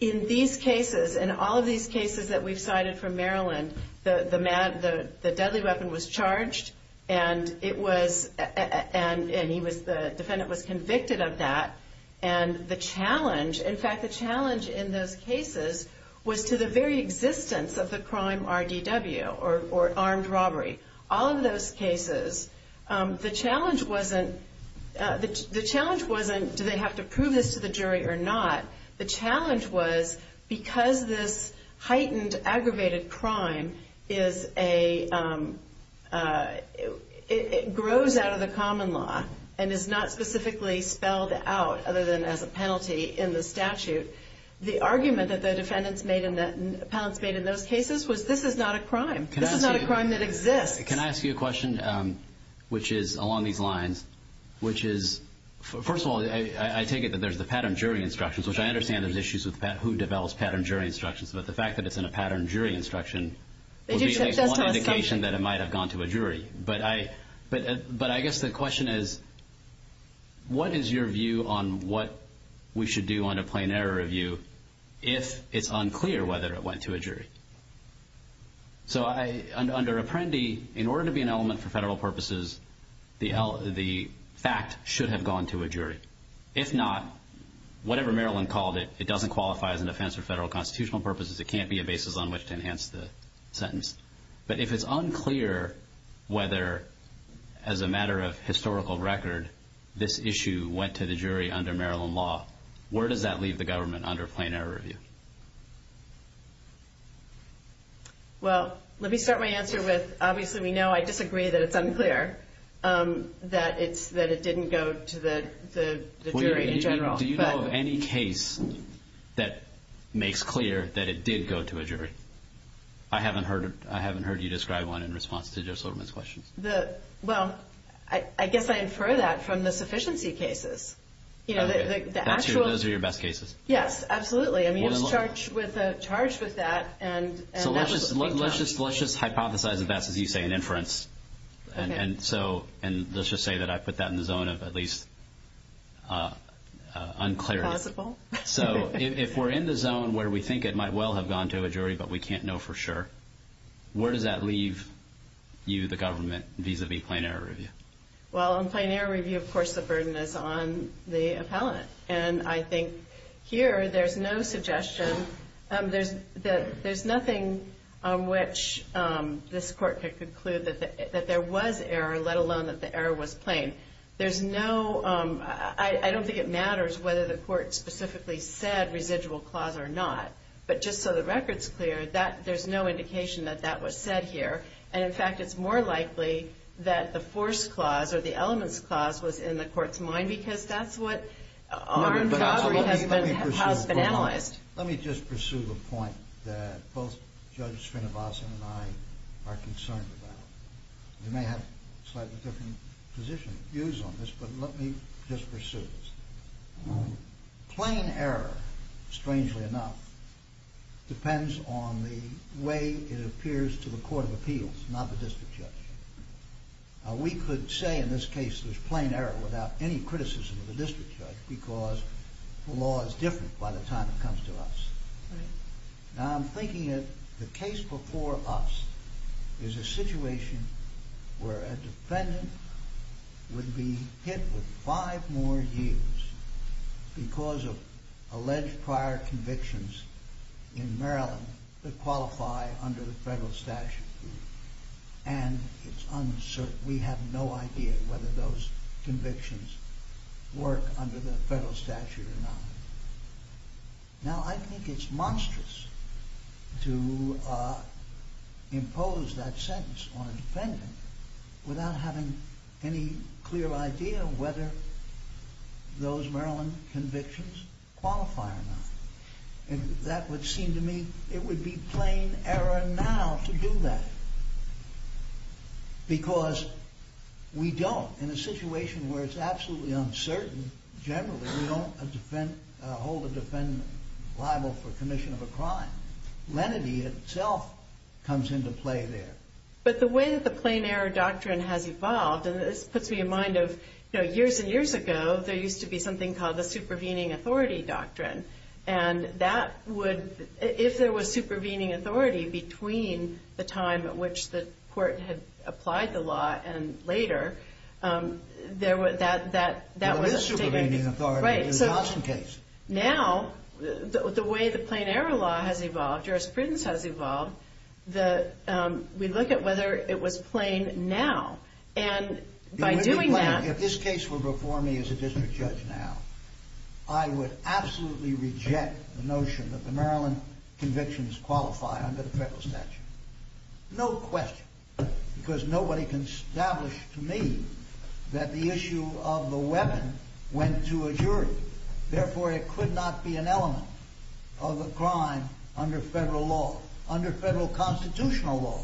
In these cases, in all of these cases that we've cited from Maryland, the deadly weapon was charged and the defendant was convicted of that and the challenge, in fact, the challenge in those cases was to the very existence of the crime RDW or armed robbery. All of those cases, the challenge wasn't do they have to prove this to the jury or not. The challenge was because this heightened, aggravated crime is a... It grows out of the common law and is not specifically spelled out other than as a penalty in the statute. The argument that the defendants made in those cases was this is not a crime. This is not a crime that exists. Can I ask you a question, which is along these lines, which is... First of all, I take it that there's the pattern jury instructions, which I understand there's issues with who develops pattern jury instructions, but the fact that it's in a pattern jury instruction... They just took this to the state. ...would be one indication that it might have gone to a jury, but I guess the question is what is your view on what we should do on a plain error review if it's unclear whether it went to a jury? So under Apprendi, in order to be an element for federal purposes, the fact should have gone to a jury. If not, whatever Maryland called it, it doesn't qualify as an offense for federal constitutional purposes. It can't be a basis on which to enhance the sentence. But if it's unclear whether, as a matter of historical record, this issue went to the jury under Maryland law, where does that leave the government under plain error review? Well, let me start my answer with obviously we know I disagree that it's unclear, that it didn't go to the jury in general. Do you know of any case that makes clear that it did go to a jury? I haven't heard you describe one in response to Joe Silverman's question. Well, I guess I infer that from the sufficiency cases. Those are your best cases? Yes, absolutely. I mean, it's charged with that. So let's just hypothesize that that's, as you say, an inference. And let's just say that I put that in the zone of at least unclarity. It's possible. So if we're in the zone where we think it might well have gone to a jury but we can't know for sure, where does that leave you, the government, vis-à-vis plain error review? Well, on plain error review, of course, the burden is on the appellant. And I think here there's no suggestion. There's nothing on which this Court could conclude that there was error, let alone that the error was plain. There's no – I don't think it matters whether the Court specifically said residual clause or not. But just so the record's clear, there's no indication that that was said here. And, in fact, it's more likely that the force clause or the elements clause was in the Court's mind because that's what armed robbery has been analyzed. Let me just pursue the point that both Judge Srinivasan and I are concerned about. You may have slightly different positions, views on this, but let me just pursue this. Plain error, strangely enough, depends on the way it appears to the court of appeals, not the district judge. We could say in this case there's plain error without any criticism of the district judge because the law is different by the time it comes to us. Now, I'm thinking that the case before us is a situation where a defendant would be hit with five more years because of alleged prior convictions in Maryland that qualify under the federal statute. And it's uncertain. We have no idea whether those convictions work under the federal statute or not. Now, I think it's monstrous to impose that sentence on a defendant without having any clear idea of whether those Maryland convictions qualify or not. And that would seem to me it would be plain error now to do that because we don't, in a situation where it's absolutely uncertain, generally we don't hold a defendant liable for commission of a crime. Lenity itself comes into play there. But the way that the plain error doctrine has evolved, and this puts me in mind of years and years ago, there used to be something called the supervening authority doctrine. And that would, if there was supervening authority between the time at which the court had applied the law and later, that was a particular case. Right, so now, the way the plain error law has evolved, jurisprudence has evolved, we look at whether it was plain now. And by doing that... If this case were before me as a district judge now, I would absolutely reject the notion that the Maryland convictions qualify under the federal statute. No question. Because nobody can establish to me that the issue of the weapon went to a jury. Therefore, it could not be an element of the crime under federal law, under federal constitutional law.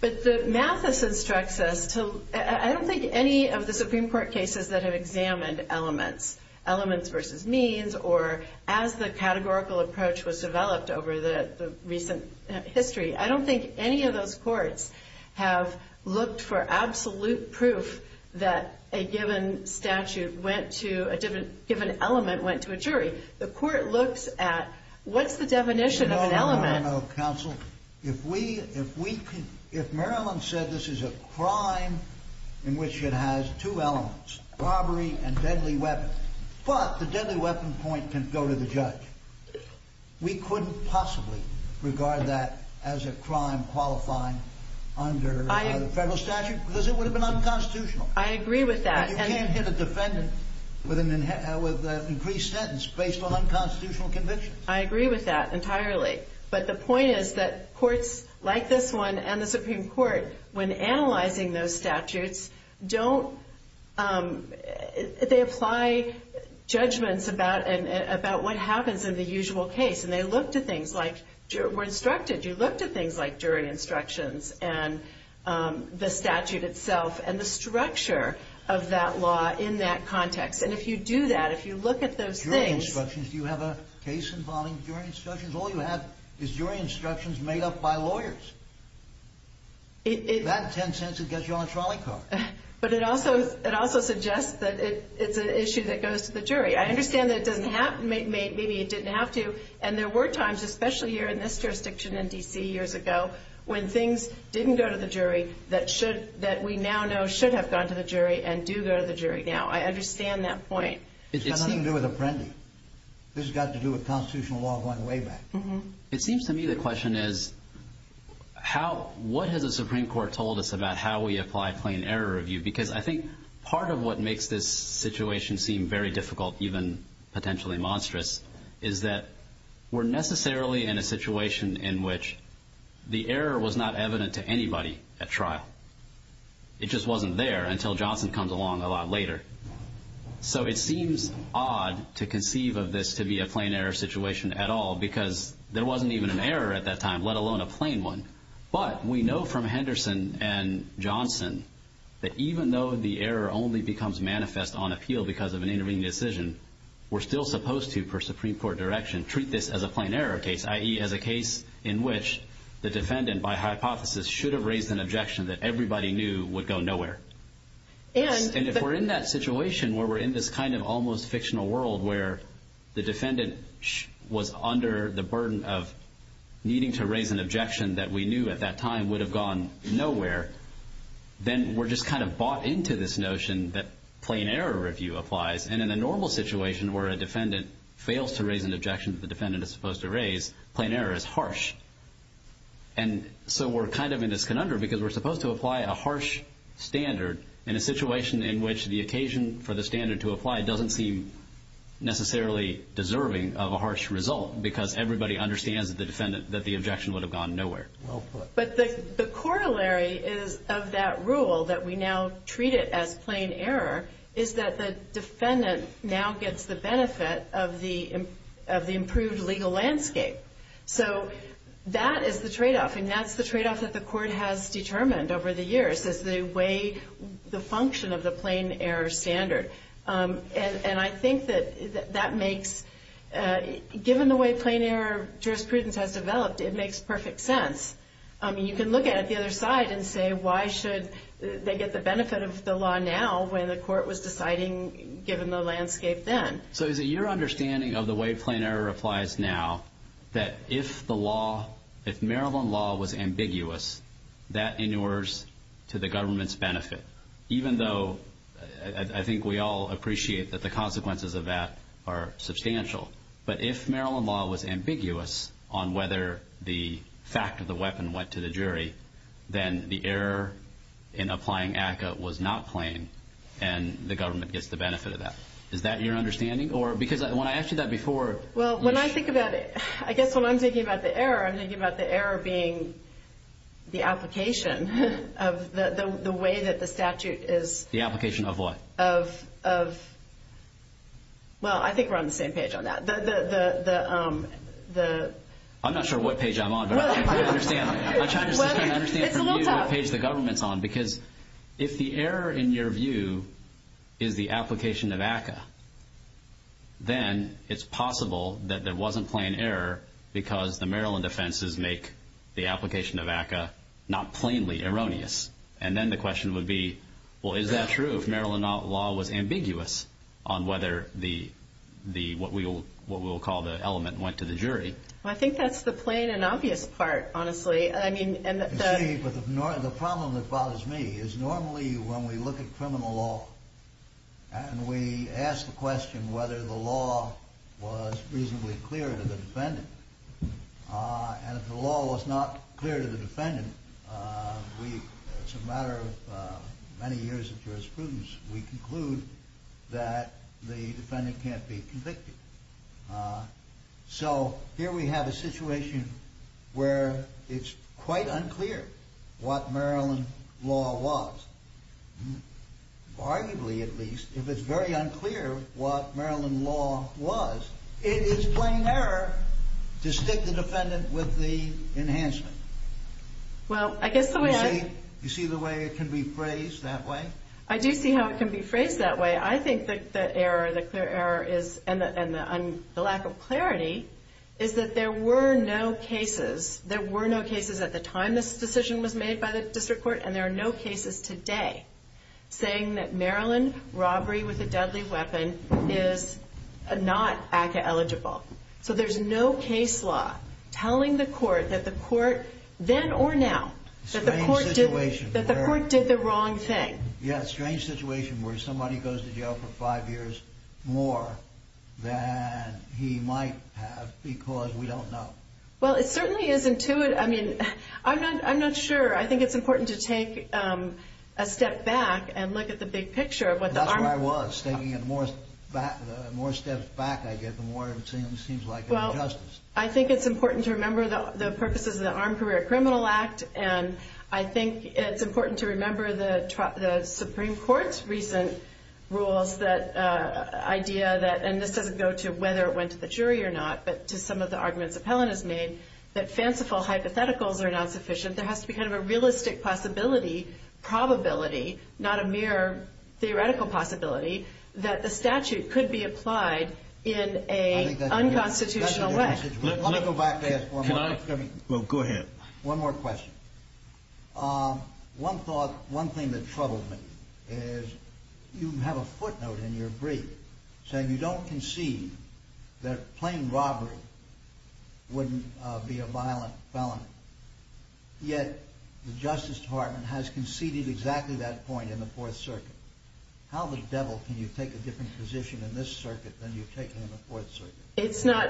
But Mathis instructs us to... I don't think any of the Supreme Court cases that have examined elements, elements versus means, or as the categorical approach was developed over the recent history, I don't think any of those courts have looked for absolute proof that a given element went to a jury. The court looks at what's the definition of an element... No, no, no, counsel. If Maryland said this is a crime in which it has two elements, robbery and deadly weapon, but the deadly weapon point can go to the judge, we couldn't possibly regard that as a crime qualifying under the federal statute because it would have been unconstitutional. I agree with that. And you can't hit a defendant with an increased sentence based on unconstitutional convictions. I agree with that entirely. But the point is that courts like this one and the Supreme Court, when analyzing those statutes, don't... They apply judgments about what happens in the usual case, and they look to things like... When instructed, you look to things like jury instructions and the statute itself and the structure of that law in that context. And if you do that, if you look at those things... Jury instructions, do you have a case involving jury instructions? All you have is jury instructions made up by lawyers. With that 10 cents, it gets you on a trolley car. But it also suggests that it's an issue that goes to the jury. I understand that it doesn't have to. Maybe it didn't have to. And there were times, especially here in this jurisdiction in D.C. years ago, when things didn't go to the jury that we now know should have gone to the jury and do go to the jury now. I understand that point. It's got nothing to do with Apprendi. This has got to do with constitutional law going way back. It seems to me the question is, what has the Supreme Court told us about how we apply plain error review? Because I think part of what makes this situation seem very difficult, even potentially monstrous, is that we're necessarily in a situation in which the error was not evident to anybody at trial. It just wasn't there until Johnson comes along a lot later. So it seems odd to conceive of this to be a plain error situation at all because there wasn't even an error at that time, let alone a plain one. But we know from Henderson and Johnson that even though the error only becomes manifest on appeal because of an intervening decision, we're still supposed to, per Supreme Court direction, treat this as a plain error case, i.e. as a case in which the defendant, by hypothesis, should have raised an objection that everybody knew would go nowhere. And if we're in that situation where we're in this kind of almost fictional world where the defendant was under the burden of needing to raise an objection that we knew at that time would have gone nowhere, then we're just kind of bought into this notion that plain error review applies. And in a normal situation where a defendant fails to raise an objection that the defendant is supposed to raise, plain error is harsh. And so we're kind of in this conundrum because we're supposed to apply a harsh standard in a situation in which the occasion for the standard to apply doesn't seem necessarily deserving of a harsh result because everybody understands that the objection would have gone nowhere. But the corollary of that rule that we now treat it as plain error is that the defendant now gets the benefit of the improved legal landscape. So that is the tradeoff, and that's the tradeoff that the Court has determined over the years as they weigh the function of the plain error standard. And I think that that makes, given the way plain error jurisprudence has developed, it makes perfect sense. You can look at it the other side and say, why should they get the benefit of the law now when the Court was deciding given the landscape then? So is it your understanding of the way plain error applies now that if the law, if Maryland law was ambiguous, that inures to the government's benefit, even though I think we all appreciate that the consequences of that are substantial. But if Maryland law was ambiguous on whether the fact of the weapon went to the jury, then the error in applying ACCA was not plain, and the government gets the benefit of that. Is that your understanding? Because when I asked you that before... Well, when I think about it, I guess when I'm thinking about the error, I'm thinking about the error being the application of the way that the statute is... The application of what? Of... Well, I think we're on the same page on that. The... I'm not sure what page I'm on, but I'm trying to understand. I'm trying to understand from you what page the government's on. Because if the error in your view is the application of ACCA, then it's possible that there wasn't plain error because the Maryland offenses make the application of ACCA not plainly erroneous. And then the question would be, well, is that true if Maryland law was ambiguous on whether what we will call the element went to the jury? Well, I think that's the plain and obvious part, honestly. You see, but the problem that bothers me is normally when we look at criminal law and we ask the question whether the law was reasonably clear to the defendant, and if the law was not clear to the defendant, we, as a matter of many years of jurisprudence, we conclude that the defendant can't be convicted. So here we have a situation where it's quite unclear what Maryland law was. Arguably, at least, if it's very unclear what Maryland law was, it is plain error to stick the defendant with the enhancement. Well, I guess the way I... You see the way it can be phrased that way? I do see how it can be phrased that way. I think that the error, the clear error is, and the lack of clarity, is that there were no cases. There were no cases at the time this decision was made by the district court, and there are no cases today saying that Maryland robbery with a deadly weapon is not ACCA-eligible. So there's no case law telling the court that the court, then or now, that the court did the wrong thing. Yes, strange situation where somebody goes to jail for five years more than he might have because we don't know. Well, it certainly is intuitive. I mean, I'm not sure. I think it's important to take a step back and look at the big picture. That's what I was thinking. The more steps back I get, the more it seems like injustice. Well, I think it's important to remember the purposes of the Armed Career Criminal Act, and I think it's important to remember the Supreme Court's recent rules, that idea that, and this doesn't go to whether it went to the jury or not, but to some of the arguments that Helen has made, that fanciful hypotheticals are not sufficient. There has to be kind of a realistic possibility, probability, not a mere theoretical possibility, that the statute could be applied in an unconstitutional way. Let me go back there for a moment. Well, go ahead. One more question. One thought, one thing that troubled me is you have a footnote in your brief saying you don't concede that plain robbery wouldn't be a violent felony, yet the Justice Department has conceded exactly that point in the Fourth Circuit. How the devil can you take a different position in this circuit than you've taken in the Fourth Circuit? It's not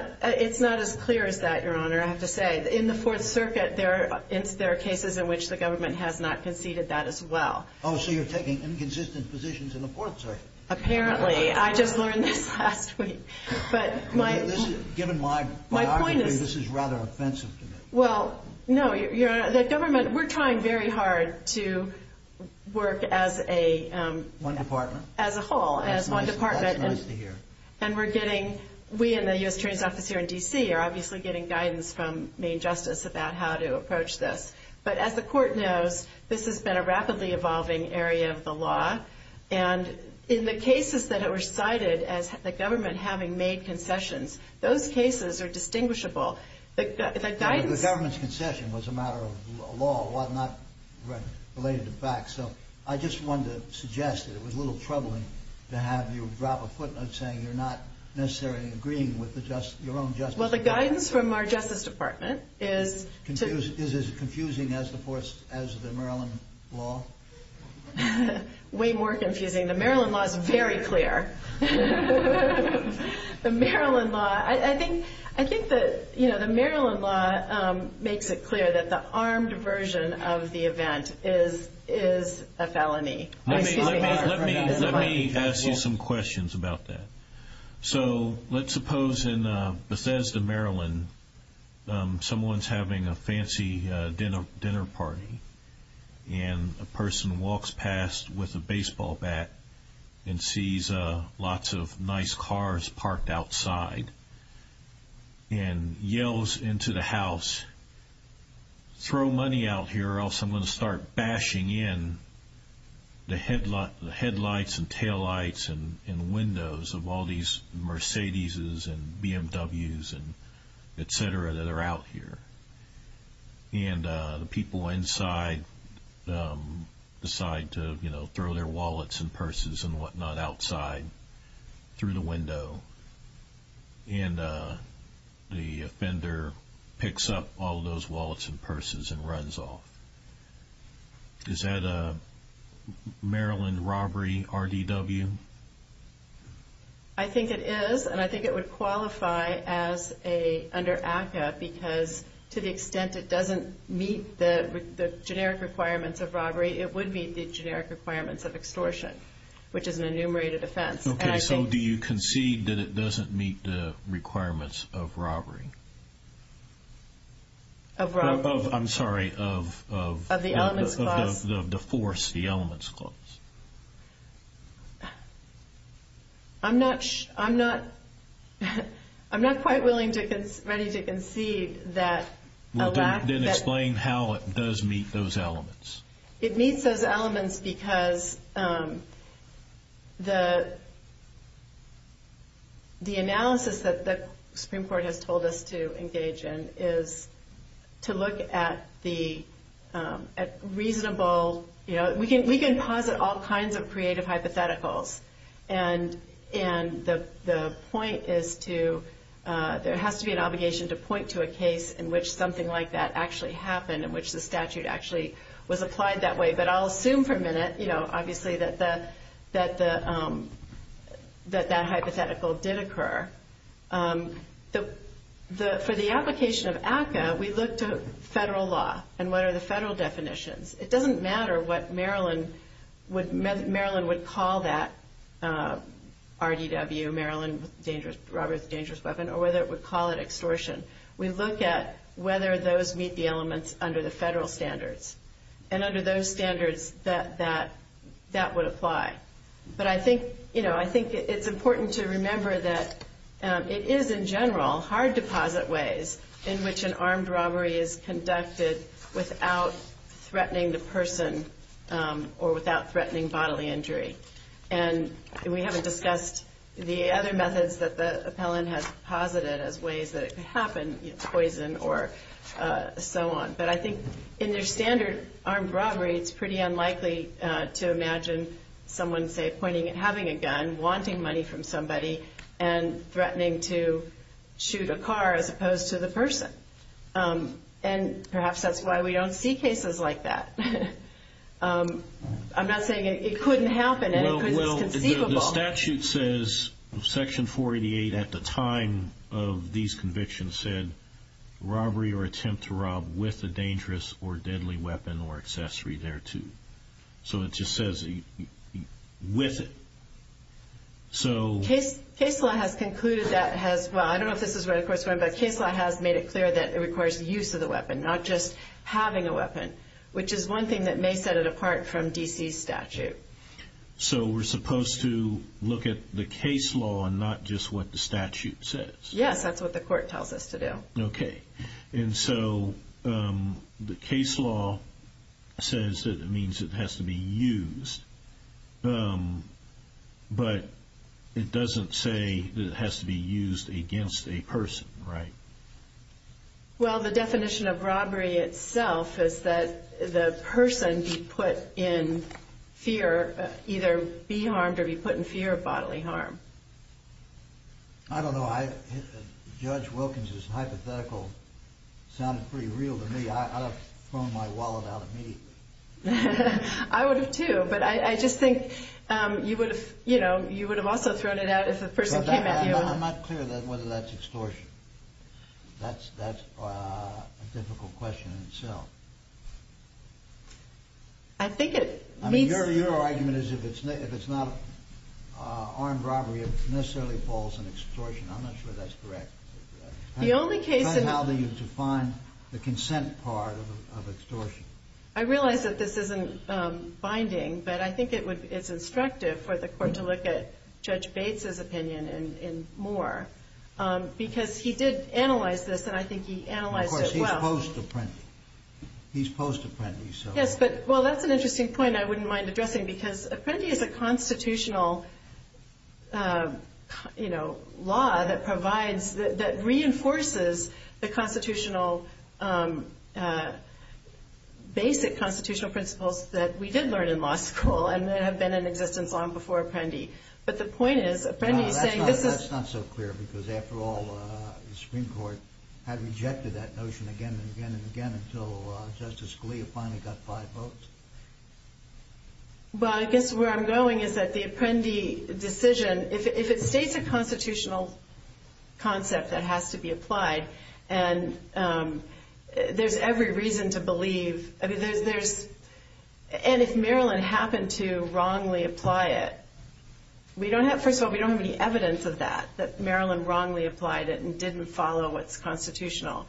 as clear as that, Your Honor, I have to say. In the Fourth Circuit, there are cases in which the government has not conceded that as well. Oh, so you're taking inconsistent positions in the Fourth Circuit. Apparently. I just learned this last week. Given my biography, this is rather offensive to me. Well, no. The government, we're trying very hard to work as a whole, as one department. That's nice to hear. And we're getting, we and the U.S. Attorney's Office here in D.C. are obviously getting guidance from Maine Justice about how to approach this. But as the Court knows, this has been a rapidly evolving area of the law, and in the cases that were cited as the government having made concessions, those cases are distinguishable. The government's concession was a matter of law, not related to facts. So I just wanted to suggest that it was a little troubling to have you drop a footnote saying you're not necessarily agreeing with your own justice. Well, the guidance from our Justice Department is to Is it as confusing as the Maryland law? Way more confusing. The Maryland law is very clear. The Maryland law, I think the Maryland law makes it clear that the armed version of the event is a felony. Let me ask you some questions about that. So let's suppose in Bethesda, Maryland, someone's having a fancy dinner party, and a person walks past with a baseball bat and sees lots of nice cars parked outside and yells into the house, throw money out here or else I'm going to start bashing in the headlights and taillights and windows of all these Mercedeses and BMWs and et cetera that are out here. And the people inside decide to throw their wallets and purses and whatnot outside through the window. And the offender picks up all those wallets and purses and runs off. Is that a Maryland robbery RDW? I think it is, and I think it would qualify as an under ACCA because to the extent it doesn't meet the generic requirements of robbery, it would meet the generic requirements of extortion, which is an enumerated offense. Okay, so do you concede that it doesn't meet the requirements of robbery? Of robbery? I'm sorry, of the force, the elements clause. I'm not quite ready to concede that a lack of Then explain how it does meet those elements. It meets those elements because the analysis that the Supreme Court has told us to engage in is to look at the reasonable, you know, we can posit all kinds of creative hypotheticals. And the point is to, there has to be an obligation to point to a case in which something like that actually happened, in which the statute actually was applied that way. But I'll assume for a minute, you know, obviously that that hypothetical did occur. For the application of ACCA, we look to federal law and what are the federal definitions. It doesn't matter what Maryland would call that RDW, Maryland robbery with a dangerous weapon, or whether it would call it extortion. We look at whether those meet the elements under the federal standards and under those standards that that would apply. But I think, you know, I think it's important to remember that it is, in general, hard to posit ways in which an armed robbery is conducted without threatening the person or without threatening bodily injury. And we haven't discussed the other methods that the appellant has posited as ways that it could happen, you know, poison or so on. But I think in their standard armed robbery, it's pretty unlikely to imagine someone, say, pointing and having a gun, wanting money from somebody, and threatening to shoot a car as opposed to the person. And perhaps that's why we don't see cases like that. I'm not saying it couldn't happen. It's conceivable. The statute says, Section 488 at the time of these convictions said, robbery or attempt to rob with a dangerous or deadly weapon or accessory thereto. So it just says with it. Case law has concluded that has, well, I don't know if this is where the course went, but case law has made it clear that it requires use of the weapon, not just having a weapon, which is one thing that may set it apart from D.C.'s statute. So we're supposed to look at the case law and not just what the statute says? Yes, that's what the court tells us to do. Okay. And so the case law says that it means it has to be used, but it doesn't say that it has to be used against a person, right? Well, the definition of robbery itself is that the person be put in fear, either be harmed or be put in fear of bodily harm. I don't know. Judge Wilkins' hypothetical sounded pretty real to me. I would have thrown my wallet out immediately. I would have too, but I just think you would have also thrown it out if a person came at you. I'm not clear whether that's extortion. That's a difficult question in itself. Your argument is if it's not armed robbery, it necessarily falls in extortion. I'm not sure that's correct. How do you define the consent part of extortion? I realize that this isn't binding, but I think it's instructive for the court to look at Judge Bates' opinion and more, because he did analyze this, and I think he analyzed it well. Of course, he's post-apprentice. Yes, but, well, that's an interesting point I wouldn't mind addressing, because apprentice is a constitutional law that provides, that reinforces the basic constitutional principles that we did learn in law school and that have been in existence long before apprentice. But the point is apprentice saying this is— No, that's not so clear because, after all, the Supreme Court had rejected that notion again and again and again until Justice Scalia finally got five votes. Well, I guess where I'm going is that the apprentice decision, if it states a constitutional concept that has to be applied, and there's every reason to believe— and if Maryland happened to wrongly apply it, first of all, we don't have any evidence of that, that Maryland wrongly applied it and didn't follow what's constitutional.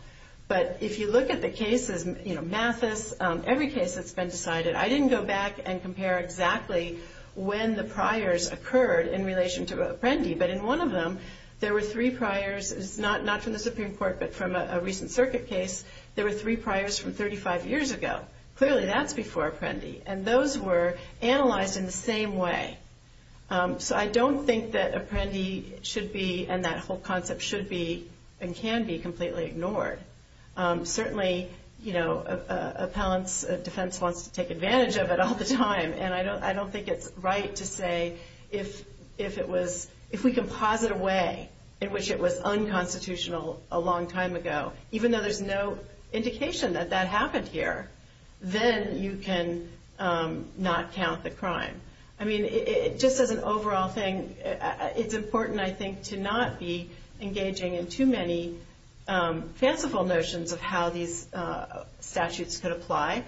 But if you look at the cases, Mathis, every case that's been decided, I didn't go back and compare exactly when the priors occurred in relation to apprentice. But in one of them, there were three priors. It's not from the Supreme Court, but from a recent circuit case. There were three priors from 35 years ago. Clearly, that's before apprentice, and those were analyzed in the same way. So I don't think that apprentice should be, and that whole concept should be, and can be completely ignored. Certainly, an appellant's defense wants to take advantage of it all the time, and I don't think it's right to say, if we can posit a way in which it was unconstitutional a long time ago, even though there's no indication that that happened here, then you can not count the crime. I mean, just as an overall thing, it's important, I think, to not be engaging in too many fanciful notions of how these statutes could apply.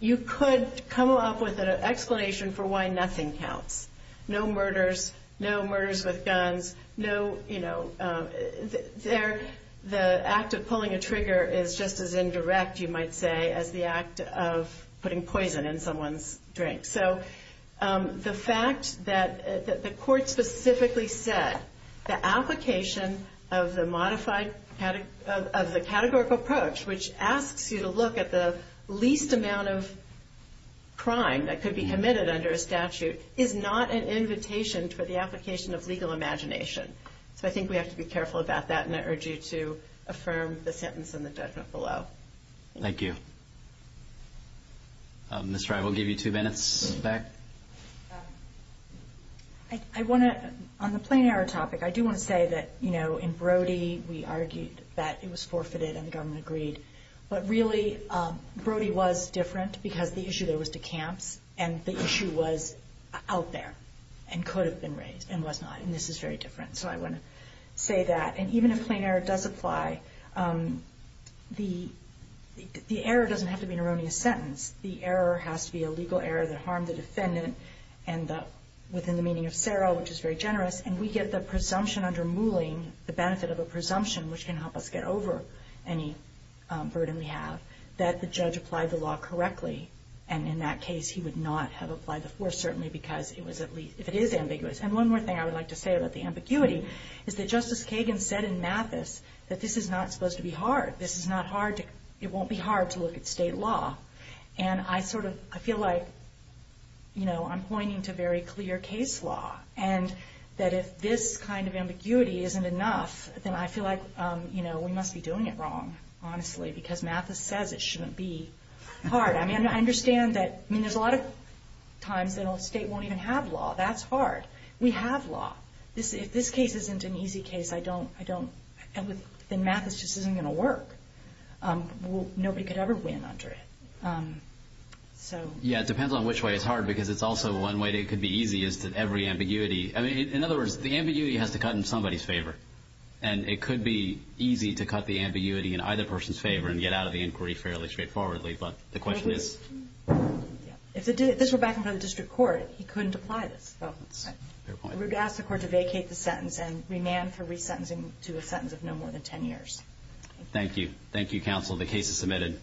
You could come up with an explanation for why nothing counts. No murders, no murders with guns. The act of pulling a trigger is just as indirect, you might say, as the act of putting poison in someone's drink. So the fact that the court specifically said the application of the categorical approach, which asks you to look at the least amount of crime that could be committed under a statute, is not an invitation for the application of legal imagination. So I think we have to be careful about that, and I urge you to affirm the sentence in the judgment below. Thank you. Ms. Frye, we'll give you two minutes. On the plain error topic, I do want to say that in Brody, we argued that it was forfeited and the government agreed. But really, Brody was different because the issue there was to camps, and the issue was out there and could have been raised and was not, and this is very different. So I want to say that. And even if plain error does apply, the error doesn't have to be an erroneous sentence. The error has to be a legal error that harmed the defendant and within the meaning of Sero, which is very generous, and we get the presumption under Mouling, the benefit of a presumption which can help us get over any burden we have, that the judge applied the law correctly. And in that case, he would not have applied the force, certainly because if it is ambiguous. And one more thing I would like to say about the ambiguity is that Justice Kagan said in Mathis that this is not supposed to be hard. This is not hard. It won't be hard to look at state law. And I feel like I'm pointing to very clear case law and that if this kind of ambiguity isn't enough, then I feel like we must be doing it wrong, honestly, because Mathis says it shouldn't be hard. I understand that there's a lot of times that a state won't even have law. That's hard. We have law. If this case isn't an easy case, then Mathis just isn't going to work. Nobody could ever win under it. Yeah, it depends on which way it's hard because it's also one way it could be easy is that every ambiguity. In other words, the ambiguity has to cut in somebody's favor, and it could be easy to cut the ambiguity in either person's favor and get out of the inquiry fairly straightforwardly, but the question is. If this were back in front of the district court, he couldn't apply this. I would ask the court to vacate the sentence and remand for resentencing to a sentence of no more than 10 years. Thank you. Thank you, counsel. The case is submitted.